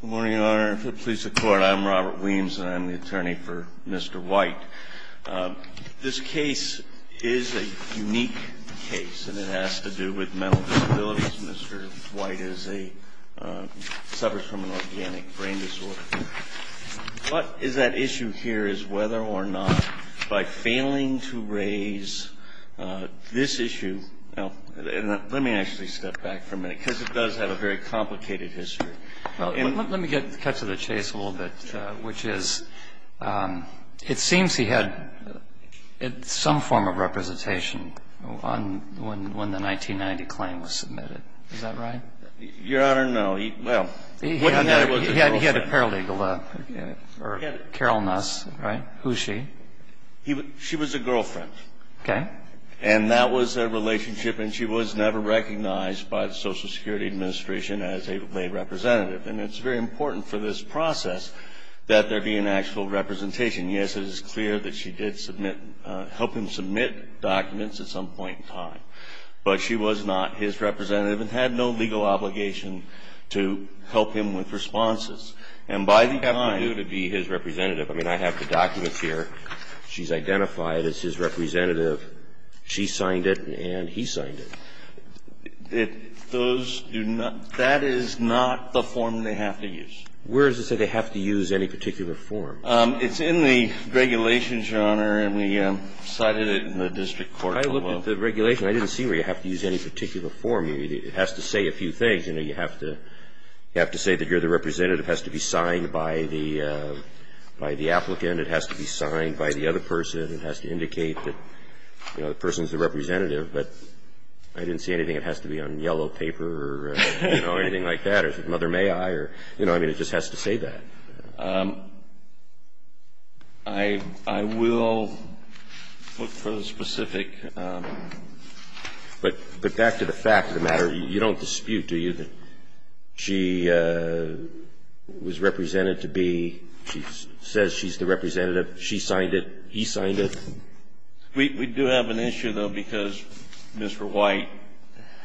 Good morning, Your Honor. For the Police Department, I'm Robert Williams, and I'm the attorney for Mr. White. This case is a unique case, and it has to do with mental disabilities. Mr. White suffers from an organic brain disorder. What is at issue here is whether or not, by failing to raise this issue, he can be released from prison. And I think that's a very important issue. Let me actually step back for a minute, because it does have a very complicated history. Let me cut to the chase a little bit, which is, it seems he had some form of representation when the 1990 claim was submitted. Is that right? Your Honor, no. He had a paralegal, Carol Nuss, right? Who's she? She was a girlfriend. Okay. And that was their relationship, and she was never recognized by the Social Security Administration as a representative. And it's very important for this process that there be an actual representation. Yes, it is clear that she did help him submit documents at some point in time, but she was not his representative and had no legal obligation to help him with responses. And by the time you have to be his representative, I mean, I have the documents here. She's identified as his representative. She signed it, and he signed it. Those do not – that is not the form they have to use. Where does it say they have to use any particular form? It's in the regulations, Your Honor, and we cited it in the district court. When I looked at the regulation, I didn't see where you have to use any particular form. It has to say a few things. You know, you have to say that you're the representative. It has to be signed by the applicant. It has to be signed by the other person. It has to indicate that, you know, the person's the representative. But I didn't see anything that has to be on yellow paper or, you know, anything like that. Or is it mother may I? You know, I mean, it just has to say that. I will look for the specific. But back to the fact of the matter. You don't dispute, do you, that she was represented to be – she says she's the representative. She signed it. He signed it. We do have an issue, though, because Mr. White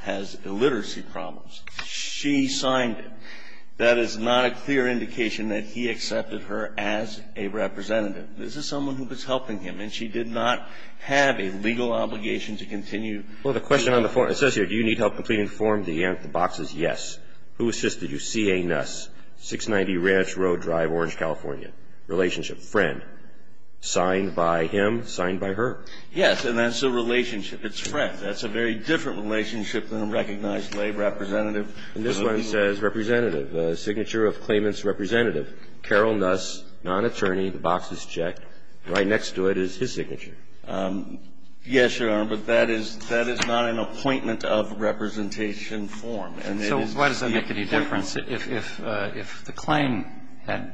has illiteracy problems. She signed it. That is not a clear indication that he accepted her as a representative. This is someone who was helping him, and she did not have a legal obligation to continue. Well, the question on the form, it says here, do you need help completing the form? The box is yes. Who assisted you? C.A. Nuss, 690 Ranch Road Drive, Orange, California. Relationship, friend. Signed by him. Signed by her. Yes, and that's a relationship. It's friend. That's a very different relationship than a recognized lay representative. And this one says representative. Signature of claimant's representative. Carol Nuss, non-attorney. The box is checked. Right next to it is his signature. Yes, Your Honor, but that is not an appointment of representation form. So why does that make any difference? If the claim had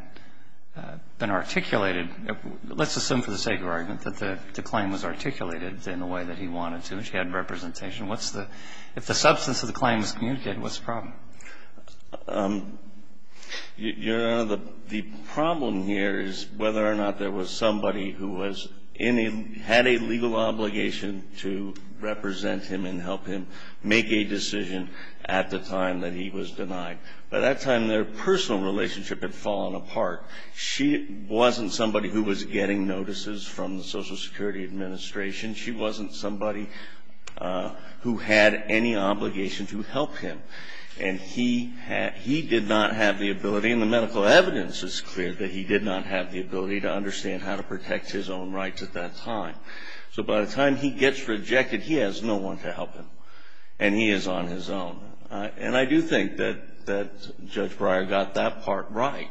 been articulated, let's assume for the sake of argument that the claim was articulated in the way that he wanted to and she had representation. If the substance of the claim is communicated, what's the problem? Your Honor, the problem here is whether or not there was somebody who had a legal obligation to represent him and help him make a decision at the time that he was denied. By that time, their personal relationship had fallen apart. She wasn't somebody who was getting notices from the Social Security Administration. She wasn't somebody who had any obligation to help him. And he did not have the ability, and the medical evidence is clear that he did not have the ability to understand how to protect his own rights at that time. So by the time he gets rejected, he has no one to help him, and he is on his own. And I do think that Judge Breyer got that part right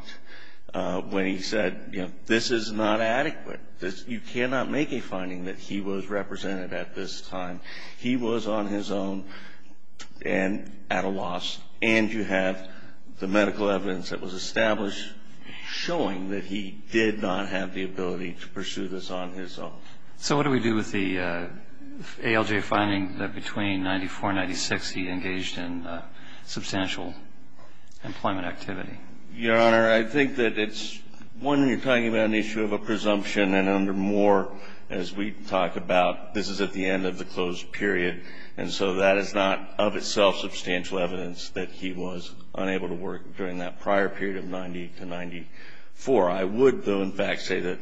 when he said, you know, this is not adequate. You cannot make a finding that he was represented at this time. He was on his own and at a loss, and you have the medical evidence that was established showing that he did not have the ability to pursue this on his own. So what do we do with the ALJ finding that between 94 and 96 he engaged in substantial employment activity? Your Honor, I think that it's, one, you're talking about an issue of a presumption, and under Moore, as we talk about, this is at the end of the closed period, and so that is not of itself substantial evidence that he was unable to work during that prior period of 90 to 94. I would, though, in fact, say that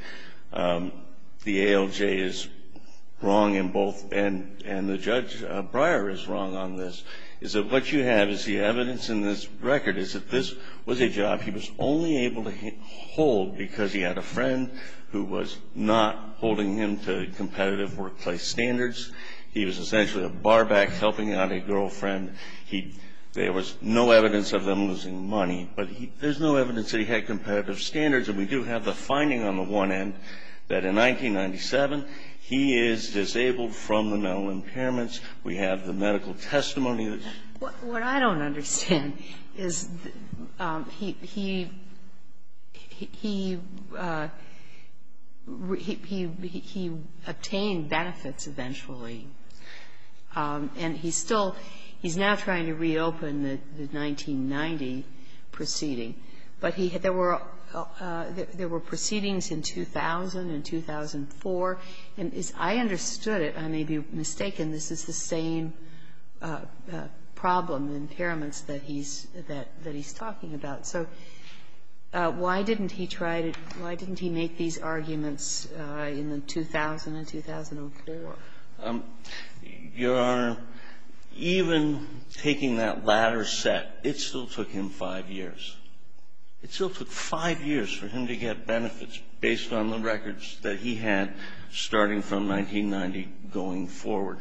the ALJ is wrong in both, and the Judge Breyer is wrong on this, is that what you have is the evidence in this record is that this was a job he was only able to hold because he had a friend who was not holding him to competitive workplace standards. He was essentially a barback helping out a girlfriend. There was no evidence of them losing money, but there's no evidence that he had competitive standards, and we do have the finding on the one end that in 1997 he is disabled from the mental impairments. We have the medical testimony. What I don't understand is he, he, he, he, he, he obtained benefits eventually. And he's still, he's now trying to reopen the 1990 proceeding. But there were proceedings in 2000 and 2004, and as I understood it, I may be mistaken, this is the same problem, impairments, that he's, that he's talking about. So why didn't he try to, why didn't he make these arguments in the 2000 and 2004? Your Honor, even taking that latter set, it still took him five years. It still took five years for him to get benefits based on the records that he had starting from 1990 going forward.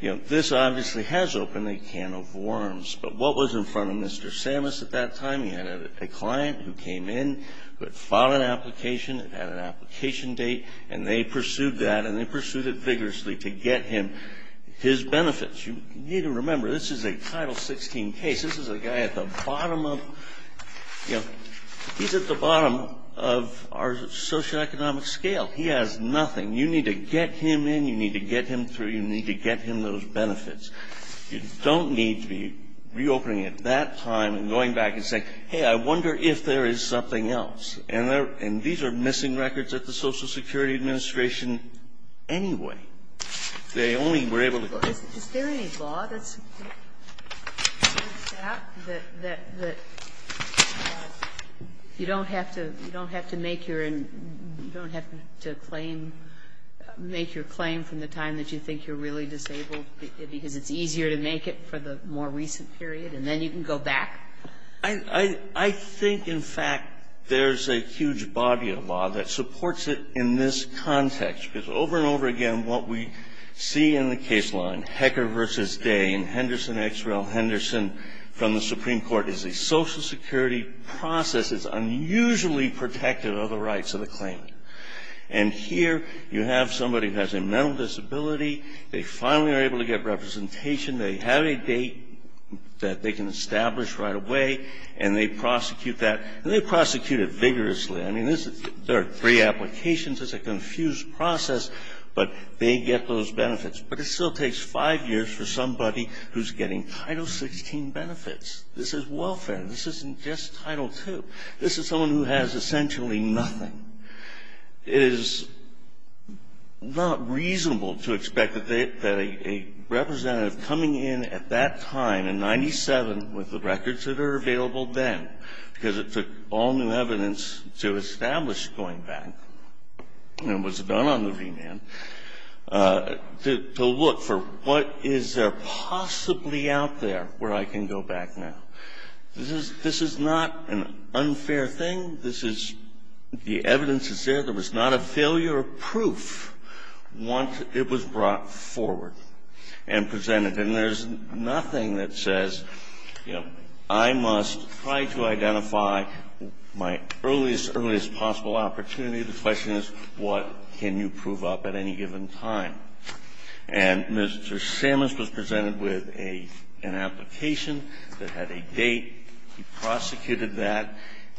You know, this obviously has opened a can of worms. But what was in front of Mr. Samus at that time? He had a client who came in, who had filed an application, had an application date, and they pursued that, and they pursued it vigorously to get him his benefits. You need to remember, this is a Title 16 case. This is a guy at the bottom of, you know, he's at the bottom of our socioeconomic scale. He has nothing. You need to get him in. You need to get him through. You need to get him those benefits. You don't need to be reopening at that time and going back and saying, hey, I wonder if there is something else. And these are missing records at the Social Security Administration anyway. They only were able to go ahead. Sotomayor, is there any law that's set up that you don't have to make your claim from the time that you think you're really disabled because it's easier to make it for the more recent period, and then you can go back? I think, in fact, there's a huge body of law that supports it in this context, because over and over again, what we see in the case line, Hecker versus Day and Henderson X. Rel. Henderson from the Supreme Court is a Social Security process that's unusually protective of the rights of the claimant. And here you have somebody who has a mental disability. They finally are able to get representation. They have a date that they can establish right away, and they prosecute that. And they prosecute it vigorously. I mean, there are three applications. It's a confused process, but they get those benefits. But it still takes five years for somebody who's getting Title XVI benefits. This is welfare. This isn't just Title II. This is someone who has essentially nothing. It is not reasonable to expect that a representative coming in at that time in 1997 with the records that are available then, because it took all new evidence to establish that I was going back and was done on the remand, to look for what is there possibly out there where I can go back now. This is not an unfair thing. This is the evidence is there. There was not a failure of proof once it was brought forward and presented. And there's nothing that says, you know, I must try to identify my earliest, earliest possible opportunity. The question is, what can you prove up at any given time? And Mr. Sammons was presented with an application that had a date. He prosecuted that.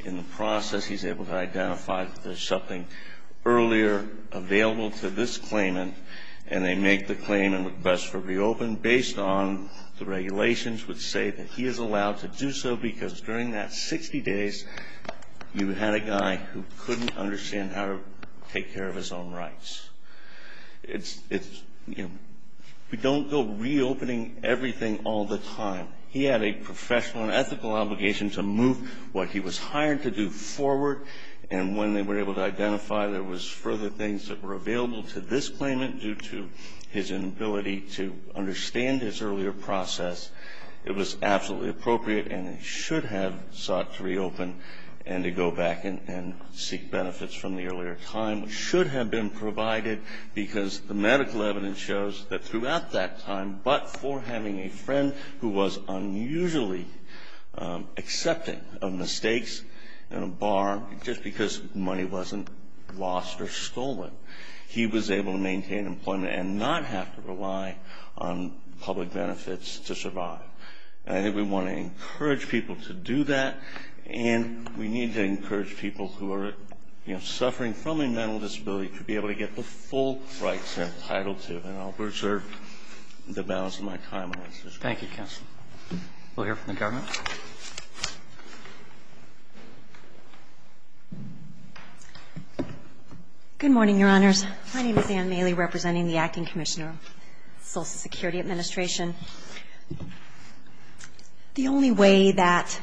In the process, he's able to identify that there's something earlier available to this claimant. And they make the claim and request for reopen, based on the regulations which say that he is allowed to do so because during that 60 days, you had a guy who couldn't understand how to take care of his own rights. It's, you know, we don't go reopening everything all the time. He had a professional and ethical obligation to move what he was hired to do forward. And when they were able to identify there was further things that were available to this claimant due to his inability to understand his earlier process, it was absolutely appropriate and he should have sought to reopen and to go back and seek benefits from the earlier time. It should have been provided because the medical evidence shows that throughout that time, but for having a friend who was unusually accepting of mistakes he was able to maintain employment and not have to rely on public benefits to survive. And I think we want to encourage people to do that and we need to encourage people who are, you know, suffering from a mental disability to be able to get the full rights they're entitled to. And I'll preserve the balance of my time on this issue. Thank you, counsel. We'll hear from the government. Good morning, Your Honors. My name is Ann Mailey, representing the Acting Commissioner of Social Security Administration. The only way that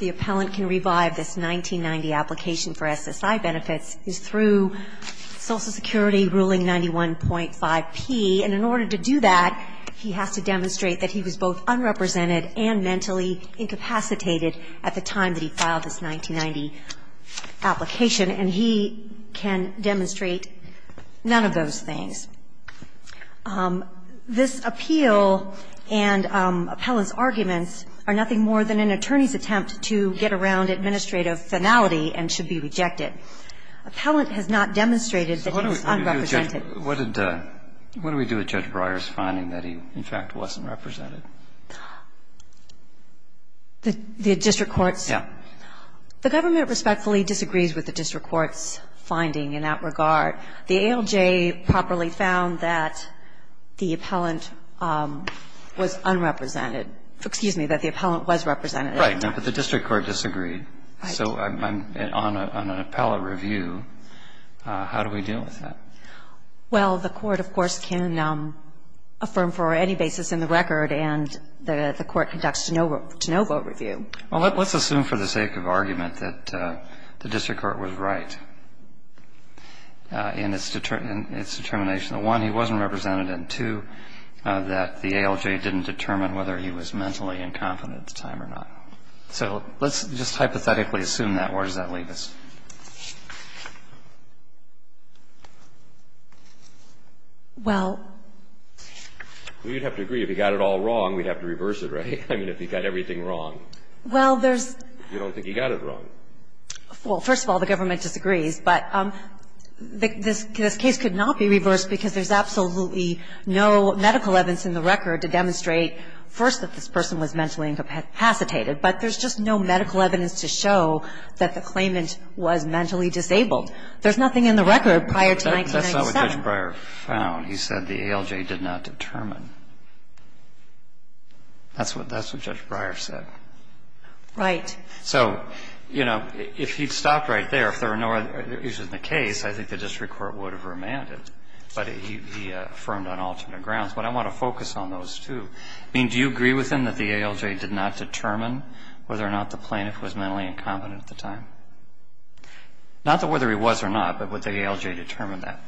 the appellant can revive this 1990 application for SSI benefits is through Social Security Ruling 91.5P. And in order to do that, he has to demonstrate that he was both unrepresented and mentally incapacitated at the time that he filed this 1990 application, and he can demonstrate none of those things. This appeal and appellant's arguments are nothing more than an attorney's attempt to get around administrative finality and should be rejected. Appellant has not demonstrated that he was unrepresented. So what do we do with Judge Breyer's finding that he, in fact, wasn't represented? The district courts? Yeah. The government respectfully disagrees with the district court's finding in that regard. The ALJ properly found that the appellant was unrepresented. Excuse me, that the appellant was represented. Right. But the district court disagreed. Right. So on an appellate review, how do we deal with that? Well, the court, of course, can affirm for any basis in the record, and the court conducts to no vote review. Well, let's assume for the sake of argument that the district court was right in its determination that, one, he wasn't represented, and, two, that the ALJ didn't determine whether he was mentally incompetent at the time or not. So let's just hypothetically assume that. Where does that leave us? Well. Well, you'd have to agree, if he got it all wrong, we'd have to reverse it, right? I mean, if he got everything wrong. Well, there's – You don't think he got it wrong. Well, first of all, the government disagrees. But this case could not be reversed because there's absolutely no medical evidence in the record to demonstrate, first, that this person was mentally incapacitated, but there's just no medical evidence to show that the claimant was mentally disabled. There's nothing in the record prior to 1997. That's not what Judge Breyer found. He said the ALJ did not determine. That's what Judge Breyer said. Right. So, you know, if he'd stopped right there, if there were no other issues in the case, I think the district court would have remanded. But he affirmed on alternate grounds. But I want to focus on those two. I mean, do you agree with him that the ALJ did not determine whether or not the whether he was or not, but would the ALJ determine that?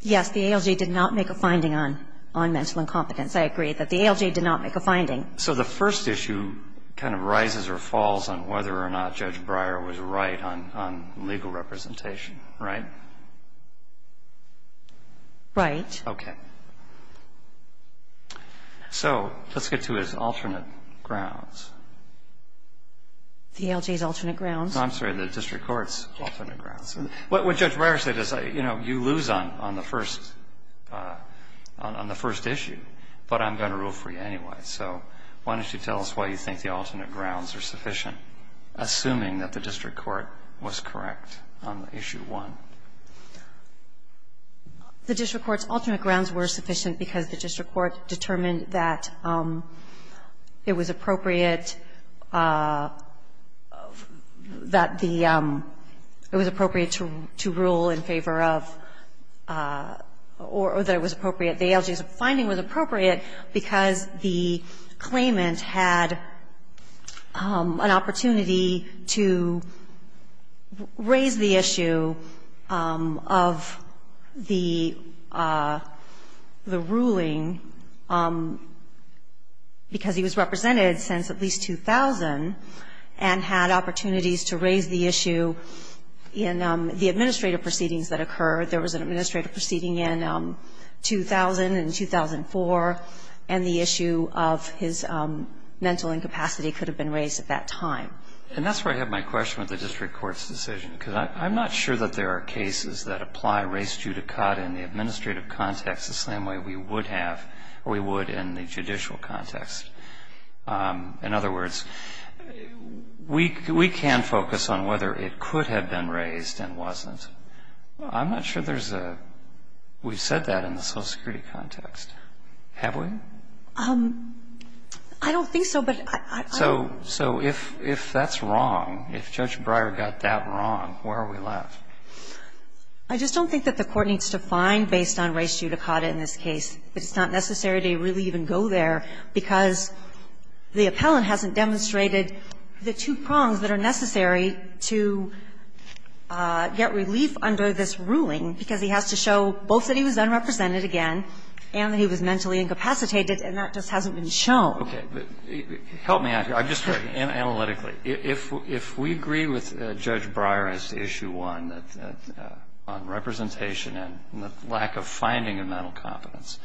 Yes. The ALJ did not make a finding on mental incompetence. I agree that the ALJ did not make a finding. So the first issue kind of rises or falls on whether or not Judge Breyer was right on legal representation, right? Right. Okay. So let's get to his alternate grounds. The ALJ's alternate grounds. I'm sorry, the district court's alternate grounds. What Judge Breyer said is, you know, you lose on the first issue. But I'm going to rule for you anyway. So why don't you tell us why you think the alternate grounds are sufficient, assuming that the district court was correct on issue one. I think the district court determined that it was appropriate, that the, it was appropriate to rule in favor of, or that it was appropriate, the ALJ's finding was appropriate because the claimant had an opportunity to raise the issue of the, the ruling because he was represented since at least 2000 and had opportunities to raise the issue in the administrative proceedings that occurred. There was an administrative proceeding in 2000 and 2004, and the issue of his mental incapacity could have been raised at that time. And that's where I have my question with the district court's decision, because I'm not sure that there are cases that apply race judicata in the administrative context the same way we would have, or we would in the judicial context. In other words, we can focus on whether it could have been raised and wasn't. I'm not sure there's a, we've said that in the Social Security context, have we? I don't think so, but I. So if that's wrong, if Judge Breyer got that wrong, where are we left? I just don't think that the Court needs to find based on race judicata in this case. It's not necessary to really even go there, because the appellant hasn't demonstrated the two prongs that are necessary to get relief under this ruling, because he has to show both that he was unrepresented again and that he was mentally incapacitated, and that just hasn't been shown. Help me out here. I'm just thinking analytically. If we agree with Judge Breyer as to Issue 1 on representation and the lack of finding of mental competence,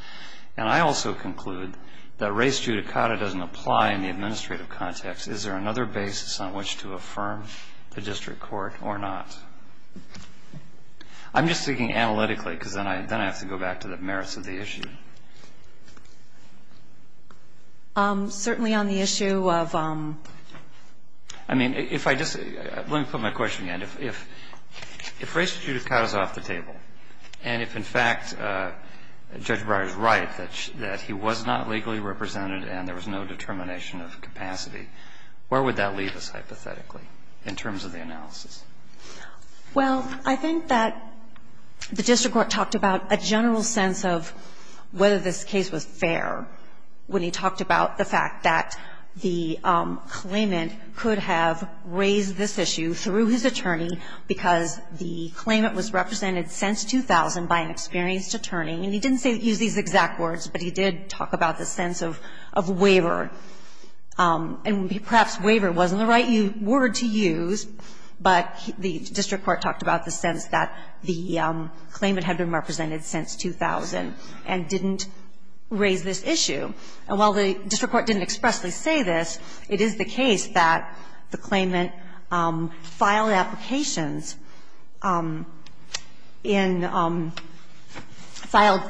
and I also conclude that race judicata doesn't apply in the administrative context, is there another basis on which to affirm the district court or not? I'm just thinking analytically, because then I have to go back to the merits of the issue. issue, but I'm going to go back to the merits of the question. Certainly on the issue of the question. I mean, if I just let me put my question again. If race judicata is off the table, and if, in fact, Judge Breyer is right that he was not legally represented and there was no determination of capacity, where would that leave us, hypothetically, in terms of the analysis? Well, I think that the district court talked about a general sense of whether this case was fair when he talked about the fact that the claimant could have raised this issue through his attorney because the claimant was represented since 2000 by an attorney, and he talked about the sense of waiver, and perhaps waiver wasn't the right word to use, but the district court talked about the sense that the claimant had been represented since 2000 and didn't raise this issue. And while the district court didn't expressly say this, it is the case that the claimant filed applications in – filed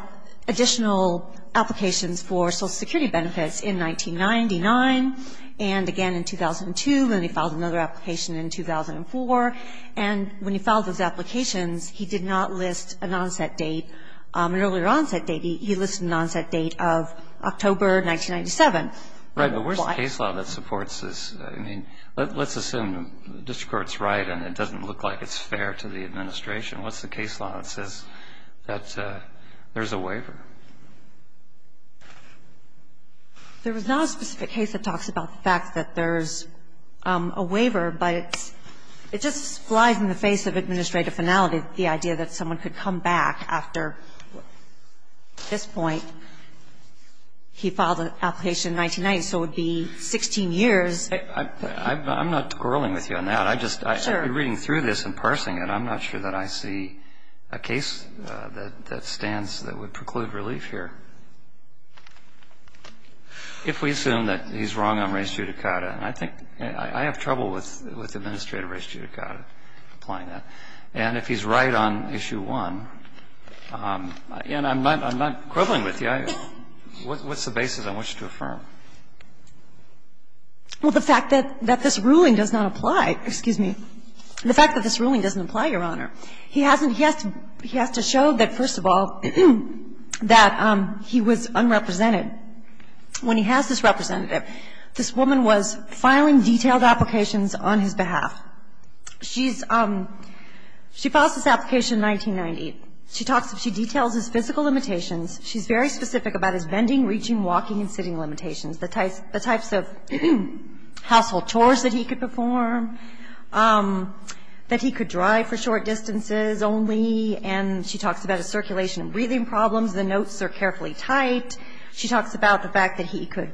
additional applications for Social Security benefits in 1999 and again in 2002, and then he filed another application in 2004, and when he filed those applications, he did not list an onset date, an earlier onset date. He listed an onset date of October 1997. Right. But where's the case law that supports this? I mean, let's assume the district court's right and it doesn't look like it's fair to the administration. What's the case law that says that there's a waiver? There is not a specific case that talks about the fact that there's a waiver, but it just flies in the face of administrative finality, the idea that someone could come back after this point. He filed an application in 1990, so it would be 16 years. I'm not quarreling with you on that. Sure. I'm just reading through this and parsing it. I'm not sure that I see a case that stands that would preclude relief here. If we assume that he's wrong on res judicata, and I think – I have trouble with administrative res judicata, applying that. And if he's right on Issue 1, and I'm not – I'm not quibbling with you. What's the basis I want you to affirm? Well, the fact that this ruling does not apply. Excuse me. The fact that this ruling doesn't apply, Your Honor. He hasn't – he has to show that, first of all, that he was unrepresented. When he has this representative, this woman was filing detailed applications on his behalf. She's – she files this application in 1990. She talks – she details his physical limitations. She's very specific about his bending, reaching, walking, and sitting limitations, the types of household chores that he could perform, that he could drive for short distances only. And she talks about his circulation and breathing problems. The notes are carefully typed. She talks about the fact that he could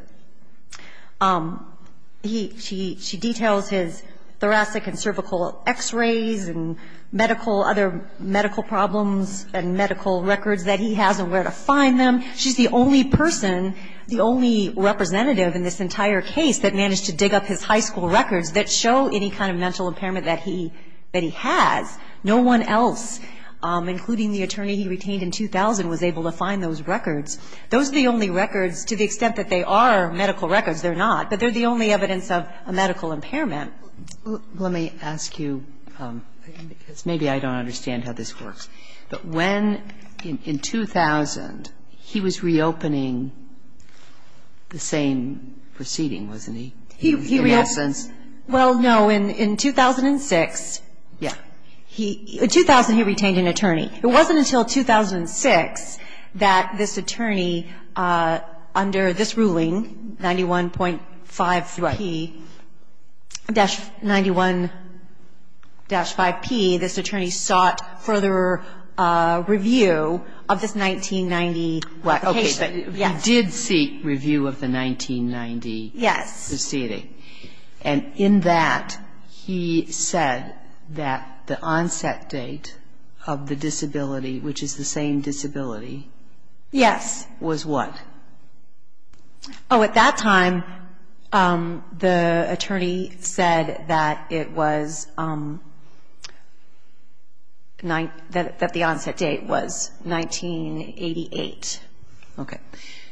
– he – she – she details his thoracic and cervical x-rays and medical – other medical problems and medical records that he has and where to find them. She's the only person, the only representative in this entire case that managed to dig up his high school records that show any kind of mental impairment that he – that he has. No one else, including the attorney he retained in 2000, was able to find those records. Those are the only records to the extent that they are medical records. They're not. But they're the only evidence of a medical impairment. Let me ask you, because maybe I don't understand how this works. But when – in 2000, he was reopening the same proceeding, wasn't he, in essence? He reopened – well, no. In 2006, he – in 2000, he retained an attorney. It wasn't until 2006 that this attorney, under this ruling, 91.5p-91-5p, this attorney sought further review of this 1990 case. Okay. But he did seek review of the 1990 proceeding. Yes. And in that, he said that the onset date of the disability, which is the same disability. Yes. Was what? Oh, at that time, the attorney said that it was – that the onset date was 1988. Okay.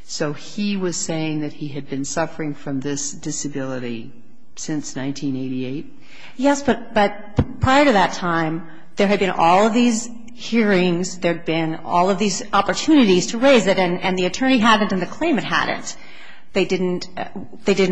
So he was saying that he had been suffering from this disability since 1988? Yes. But prior to that time, there had been all of these hearings. There had been all of these opportunities to raise it, and the attorney hadn't and the claimant hadn't. They didn't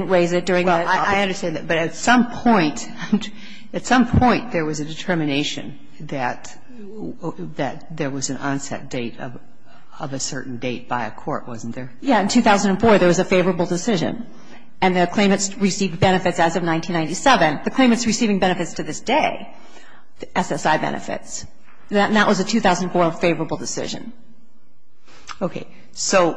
raise it during the process. Well, I understand that. But at some point – at some point, there was a determination that there was an onset date of a certain date by a court, wasn't there? Yes. In 2004, there was a favorable decision, and the claimants received benefits as of 1997. The claimants receiving benefits to this day, SSI benefits, that was a 2004 favorable decision. Okay. So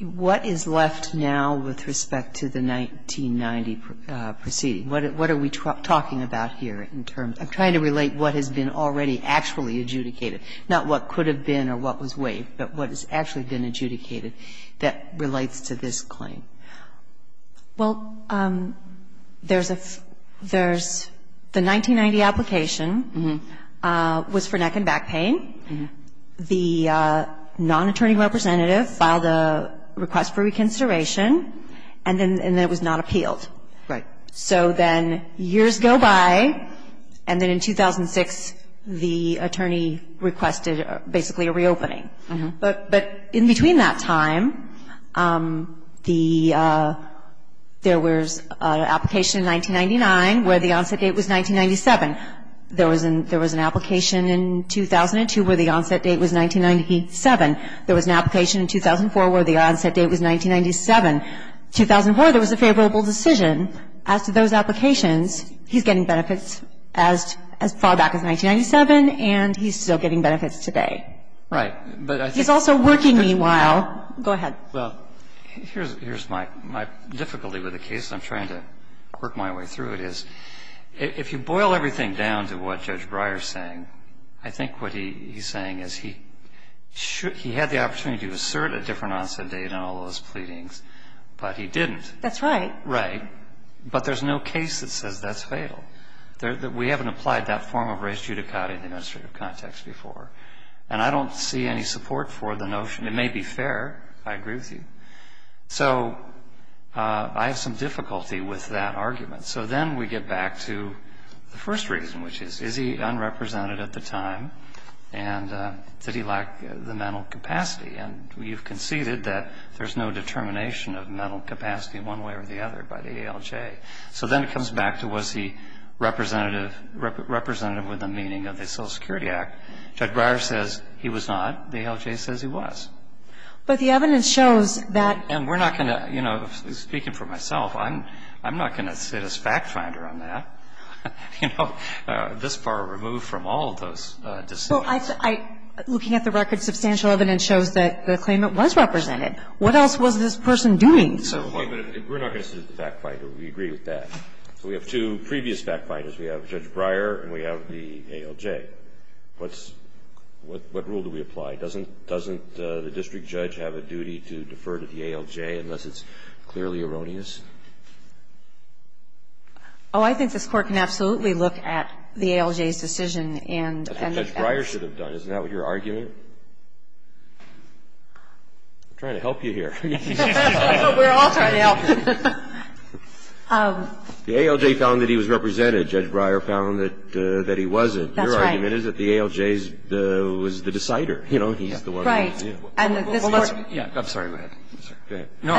what is left now with respect to the 1990 proceeding? What are we talking about here in terms – I'm trying to relate what has been already actually adjudicated, not what could have been or what was waived, but what has actually been adjudicated that relates to this claim? Well, there's a – there's the 1990 application was for neck and back pain. The non-attorney representative filed a request for reconsideration, and then it was not appealed. Right. So then years go by, and then in 2006, the attorney requested basically a reopening. But in between that time, the – there was an application in 1999 where the onset date was 1997. There was an – there was an application in 2002 where the onset date was 1997. There was an application in 2004 where the onset date was 1997. In 2004, there was a favorable decision. As to those applications, he's getting benefits as far back as 1997, and he's still getting benefits today. Right. But I think – He's also working meanwhile. Go ahead. Well, here's my difficulty with the case, and I'm trying to work my way through it, is if you boil everything down to what Judge Breyer is saying, I think what he's saying is he had the opportunity to assert a different onset date on all those pleadings, but he didn't. That's right. Right. But there's no case that says that's fatal. We haven't applied that form of res judicata in the administrative context before. And I don't see any support for the notion. It may be fair. I agree with you. So I have some difficulty with that argument. So then we get back to the first reason, which is, is he unrepresented at the time, and did he lack the mental capacity? And you've conceded that there's no determination of mental capacity one way or the other by the ALJ. So then it comes back to was he representative with the meaning of the Social Security Act. Judge Breyer says he was not. The ALJ says he was. But the evidence shows that – And we're not going to, you know, speaking for myself, I'm not going to sit as fact finder on that. You know, this far removed from all of those decisions. Well, looking at the record, substantial evidence shows that the claimant was represented. What else was this person doing? Wait a minute. We're not going to sit as the fact finder. We agree with that. So we have two previous fact finders. We have Judge Breyer and we have the ALJ. What's – what rule do we apply? Doesn't the district judge have a duty to defer to the ALJ unless it's clearly erroneous? Oh, I think this Court can absolutely look at the ALJ's decision and – That's what Judge Breyer should have done. Isn't that what your argument? I'm trying to help you here. We're all trying to help you. The ALJ found that he was represented. Judge Breyer found that he wasn't. That's right. I mean, it is that the ALJ was the decider. You know, he's the one who – Right. And this Court – Yeah. I'm sorry. Go ahead. No.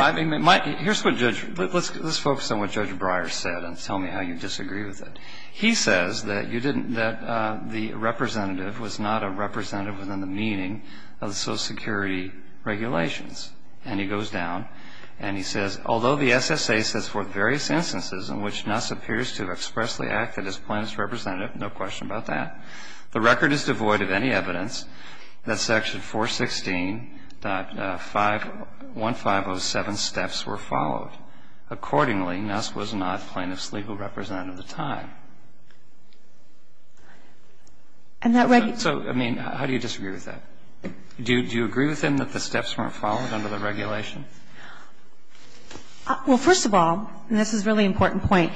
Here's what Judge – let's focus on what Judge Breyer said and tell me how you disagree with it. He says that you didn't – that the representative was not a representative within the meaning of the Social Security regulations. And he goes down and he says, Although the SSA sets forth various instances in which Nuss appears to have expressly The record is devoid of any evidence that Section 416.1507 steps were followed. Accordingly, Nuss was not plaintiff's legal representative at the time. And that – So, I mean, how do you disagree with that? Do you agree with him that the steps weren't followed under the regulation? Well, first of all, and this is a really important point,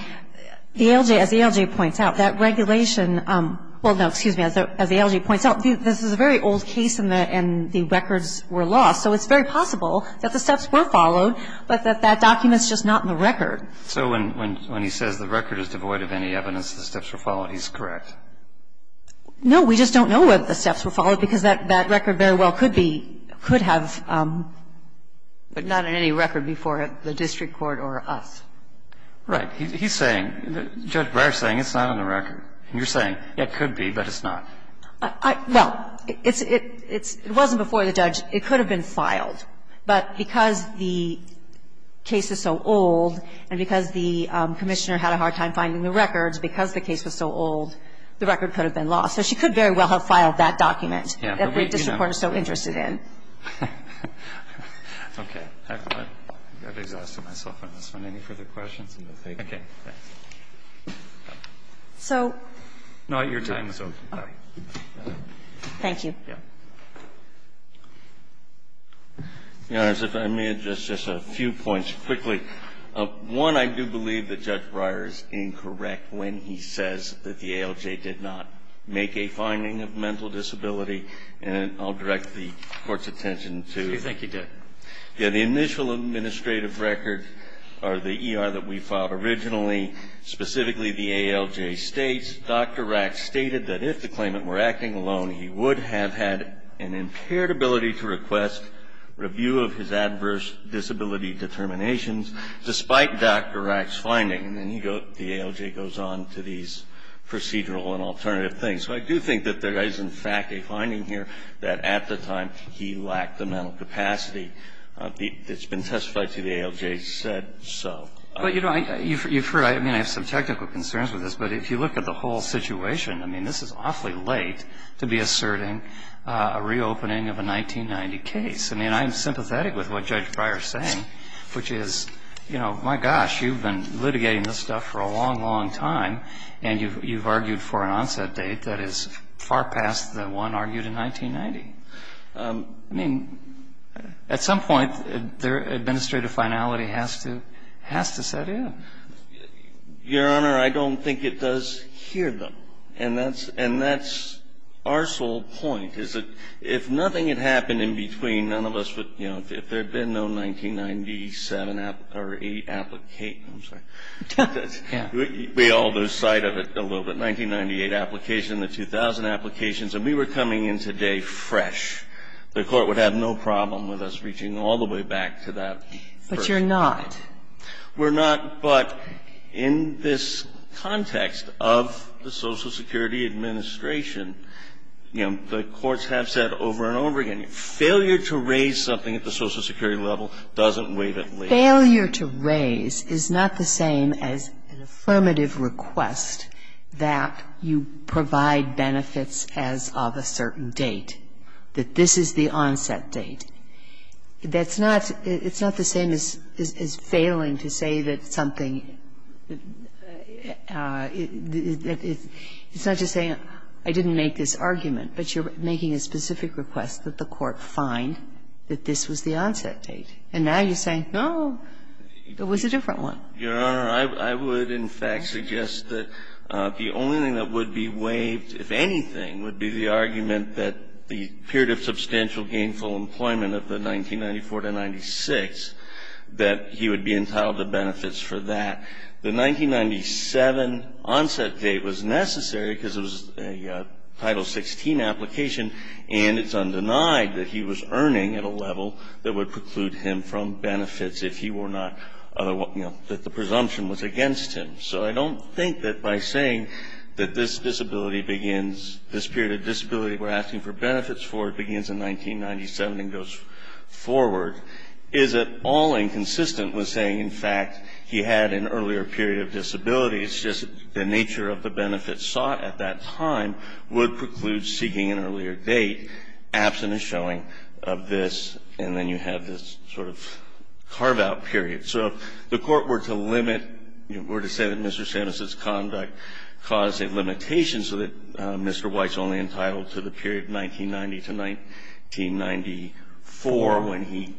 the ALJ, as the ALJ said, points out, that regulation – well, no, excuse me. As the ALJ points out, this is a very old case and the records were lost. So it's very possible that the steps were followed, but that that document's just not in the record. So when he says the record is devoid of any evidence the steps were followed, he's correct? No. We just don't know whether the steps were followed because that record very well could be – could have. But not in any record before the district court or us. Right. He's saying – Judge Breyer's saying it's not in the record. And you're saying it could be, but it's not. Well, it's – it wasn't before the judge. It could have been filed. But because the case is so old and because the Commissioner had a hard time finding the records, because the case was so old, the record could have been lost. So she could very well have filed that document that the district court is so interested Okay. I've exhausted myself on this one. Any further questions? No, thank you. Okay. Thanks. So – Not your time, Sophie. Oh. Thank you. Yeah. Your Honors, if I may, just a few points quickly. One, I do believe that Judge Breyer is incorrect when he says that the ALJ did not make a finding of mental disability. And I'll direct the Court's attention to – So you think he did? Yeah. The initial administrative record, or the ER that we filed originally, specifically the ALJ states, Dr. Rack stated that if the claimant were acting alone, he would have had an impaired ability to request review of his adverse disability determinations, despite Dr. Rack's finding. And then he goes – the ALJ goes on to these procedural and alternative things. So I do think that there is, in fact, a finding here that at the time, he lacked the mental capacity that's been testified to, the ALJ said so. But, you know, you've heard – I mean, I have some technical concerns with this, but if you look at the whole situation, I mean, this is awfully late to be asserting a reopening of a 1990 case. I mean, I am sympathetic with what Judge Breyer is saying, which is, you know, my gosh, you've been litigating this stuff for a long, long time, and you've argued for an onset date that is far past the one argued in 1990. I mean, at some point, their administrative finality has to – has to set in. Your Honor, I don't think it does here, though. And that's – and that's our sole point, is that if nothing had happened in between, none of us would – you know, if there had been no 1997 or – I'm sorry. Yeah. We all lose sight of it a little bit. But you're not. We're not. But in this context of the Social Security Administration, you know, the courts have said over and over again, failure to raise something at the Social Security level doesn't wait until later. Failure to raise is not the same as an affirmative request that, you know, perhaps you provide benefits as of a certain date, that this is the onset date. That's not – it's not the same as failing to say that something – it's not just saying, I didn't make this argument, but you're making a specific request that the court find that this was the onset date. And now you're saying, no, it was a different one. Your Honor, I would, in fact, suggest that the only thing that would be waived, if anything, would be the argument that the period of substantial gainful employment of the 1994 to 1996, that he would be entitled to benefits for that. The 1997 onset date was necessary because it was a Title 16 application, and it's undenied that he was earning at a level that would preclude him from benefits if he were not – you know, that the presumption was against him. So I don't think that by saying that this disability begins – this period of disability we're asking for benefits for begins in 1997 and goes forward is at all inconsistent with saying, in fact, he had an earlier period of disability. It's just the nature of the benefits sought at that time would preclude seeking an earlier date absent a showing of this, and then you have this sort of carve-out period. So if the Court were to limit – were to say that Mr. Samus's conduct caused a limitation so that Mr. White's only entitled to the period 1990 to 1994 when he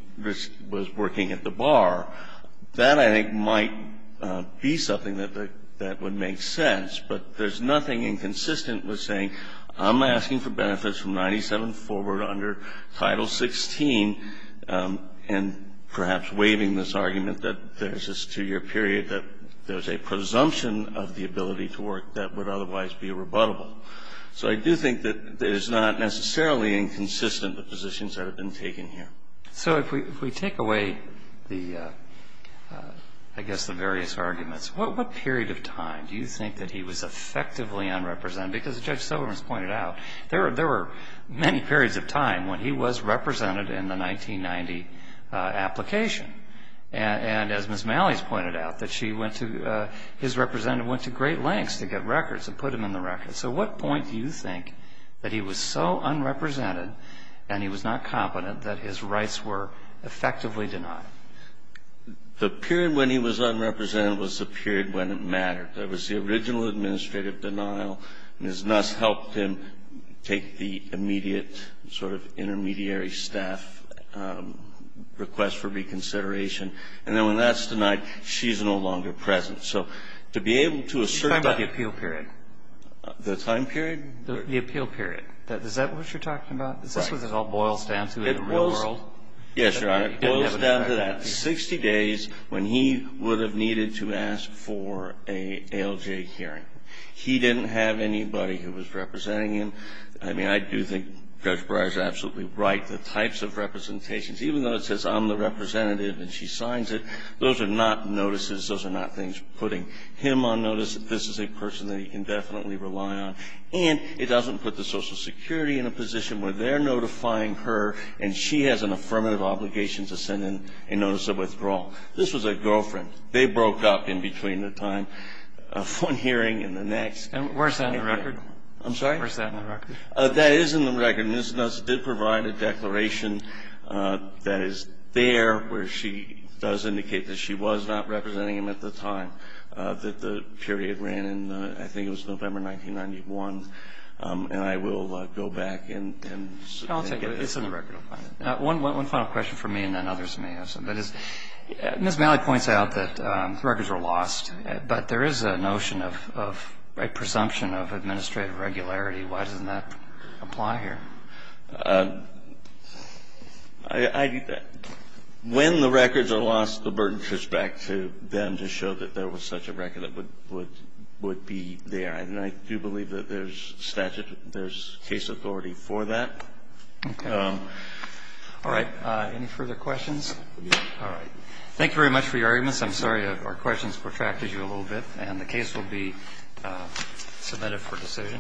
was working at the bar, that, I think, might be something that would make sense. But there's nothing inconsistent with saying, I'm asking for benefits from 1997 forward under Title 16, and perhaps waiving this argument that there's this two-year period that there's a presumption of the ability to work that would otherwise be rebuttable. So I do think that it is not necessarily inconsistent, the positions that have been taken here. So if we take away the – I guess the various arguments, what period of time do you think that he was effectively unrepresented? Because, Judge Silverman has pointed out, there were many periods of time when he was represented in the 1990 application. And as Ms. Malley has pointed out, that she went to – his representative went to great lengths to get records and put him in the records. So what point do you think that he was so unrepresented and he was not competent that his rights were effectively denied? The period when he was unrepresented was the period when it mattered. That was the original administrative denial. Ms. Nuss helped him take the immediate sort of intermediary staff request for reconsideration. And then when that's denied, she's no longer present. So to be able to assert that – You're talking about the appeal period. The time period? The appeal period. Is that what you're talking about? Is this what it all boils down to in the real world? Yes, Your Honor. It boils down to that. when he would have needed to ask for an ALJ hearing. He didn't have anybody who was representing him. I mean, I do think Judge Breyer is absolutely right. The types of representations, even though it says, I'm the representative and she signs it, those are not notices. Those are not things putting him on notice. This is a person that he can definitely rely on. And it doesn't put the Social Security in a position where they're notifying her and she has an affirmative obligation to send in a notice of withdrawal. This was a girlfriend. They broke up in between the time of one hearing and the next. And where's that in the record? I'm sorry? Where's that in the record? That is in the record. Ms. Nuss did provide a declaration that is there where she does indicate that she was not representing him at the time that the period ran in, I think it was November 1991. And I will go back and get it. I'll take it. It's in the record. One final question for me and then others may have some. Ms. Malley points out that records are lost, but there is a notion of a presumption of administrative regularity. Why doesn't that apply here? I think that when the records are lost, the burden shifts back to them to show that there was such a record that would be there. And I do believe that there's statute, there's case authority for that. Okay. All right. Any further questions? All right. Thank you very much for your arguments. I'm sorry our questions protracted you a little bit, and the case will be submitted for decision.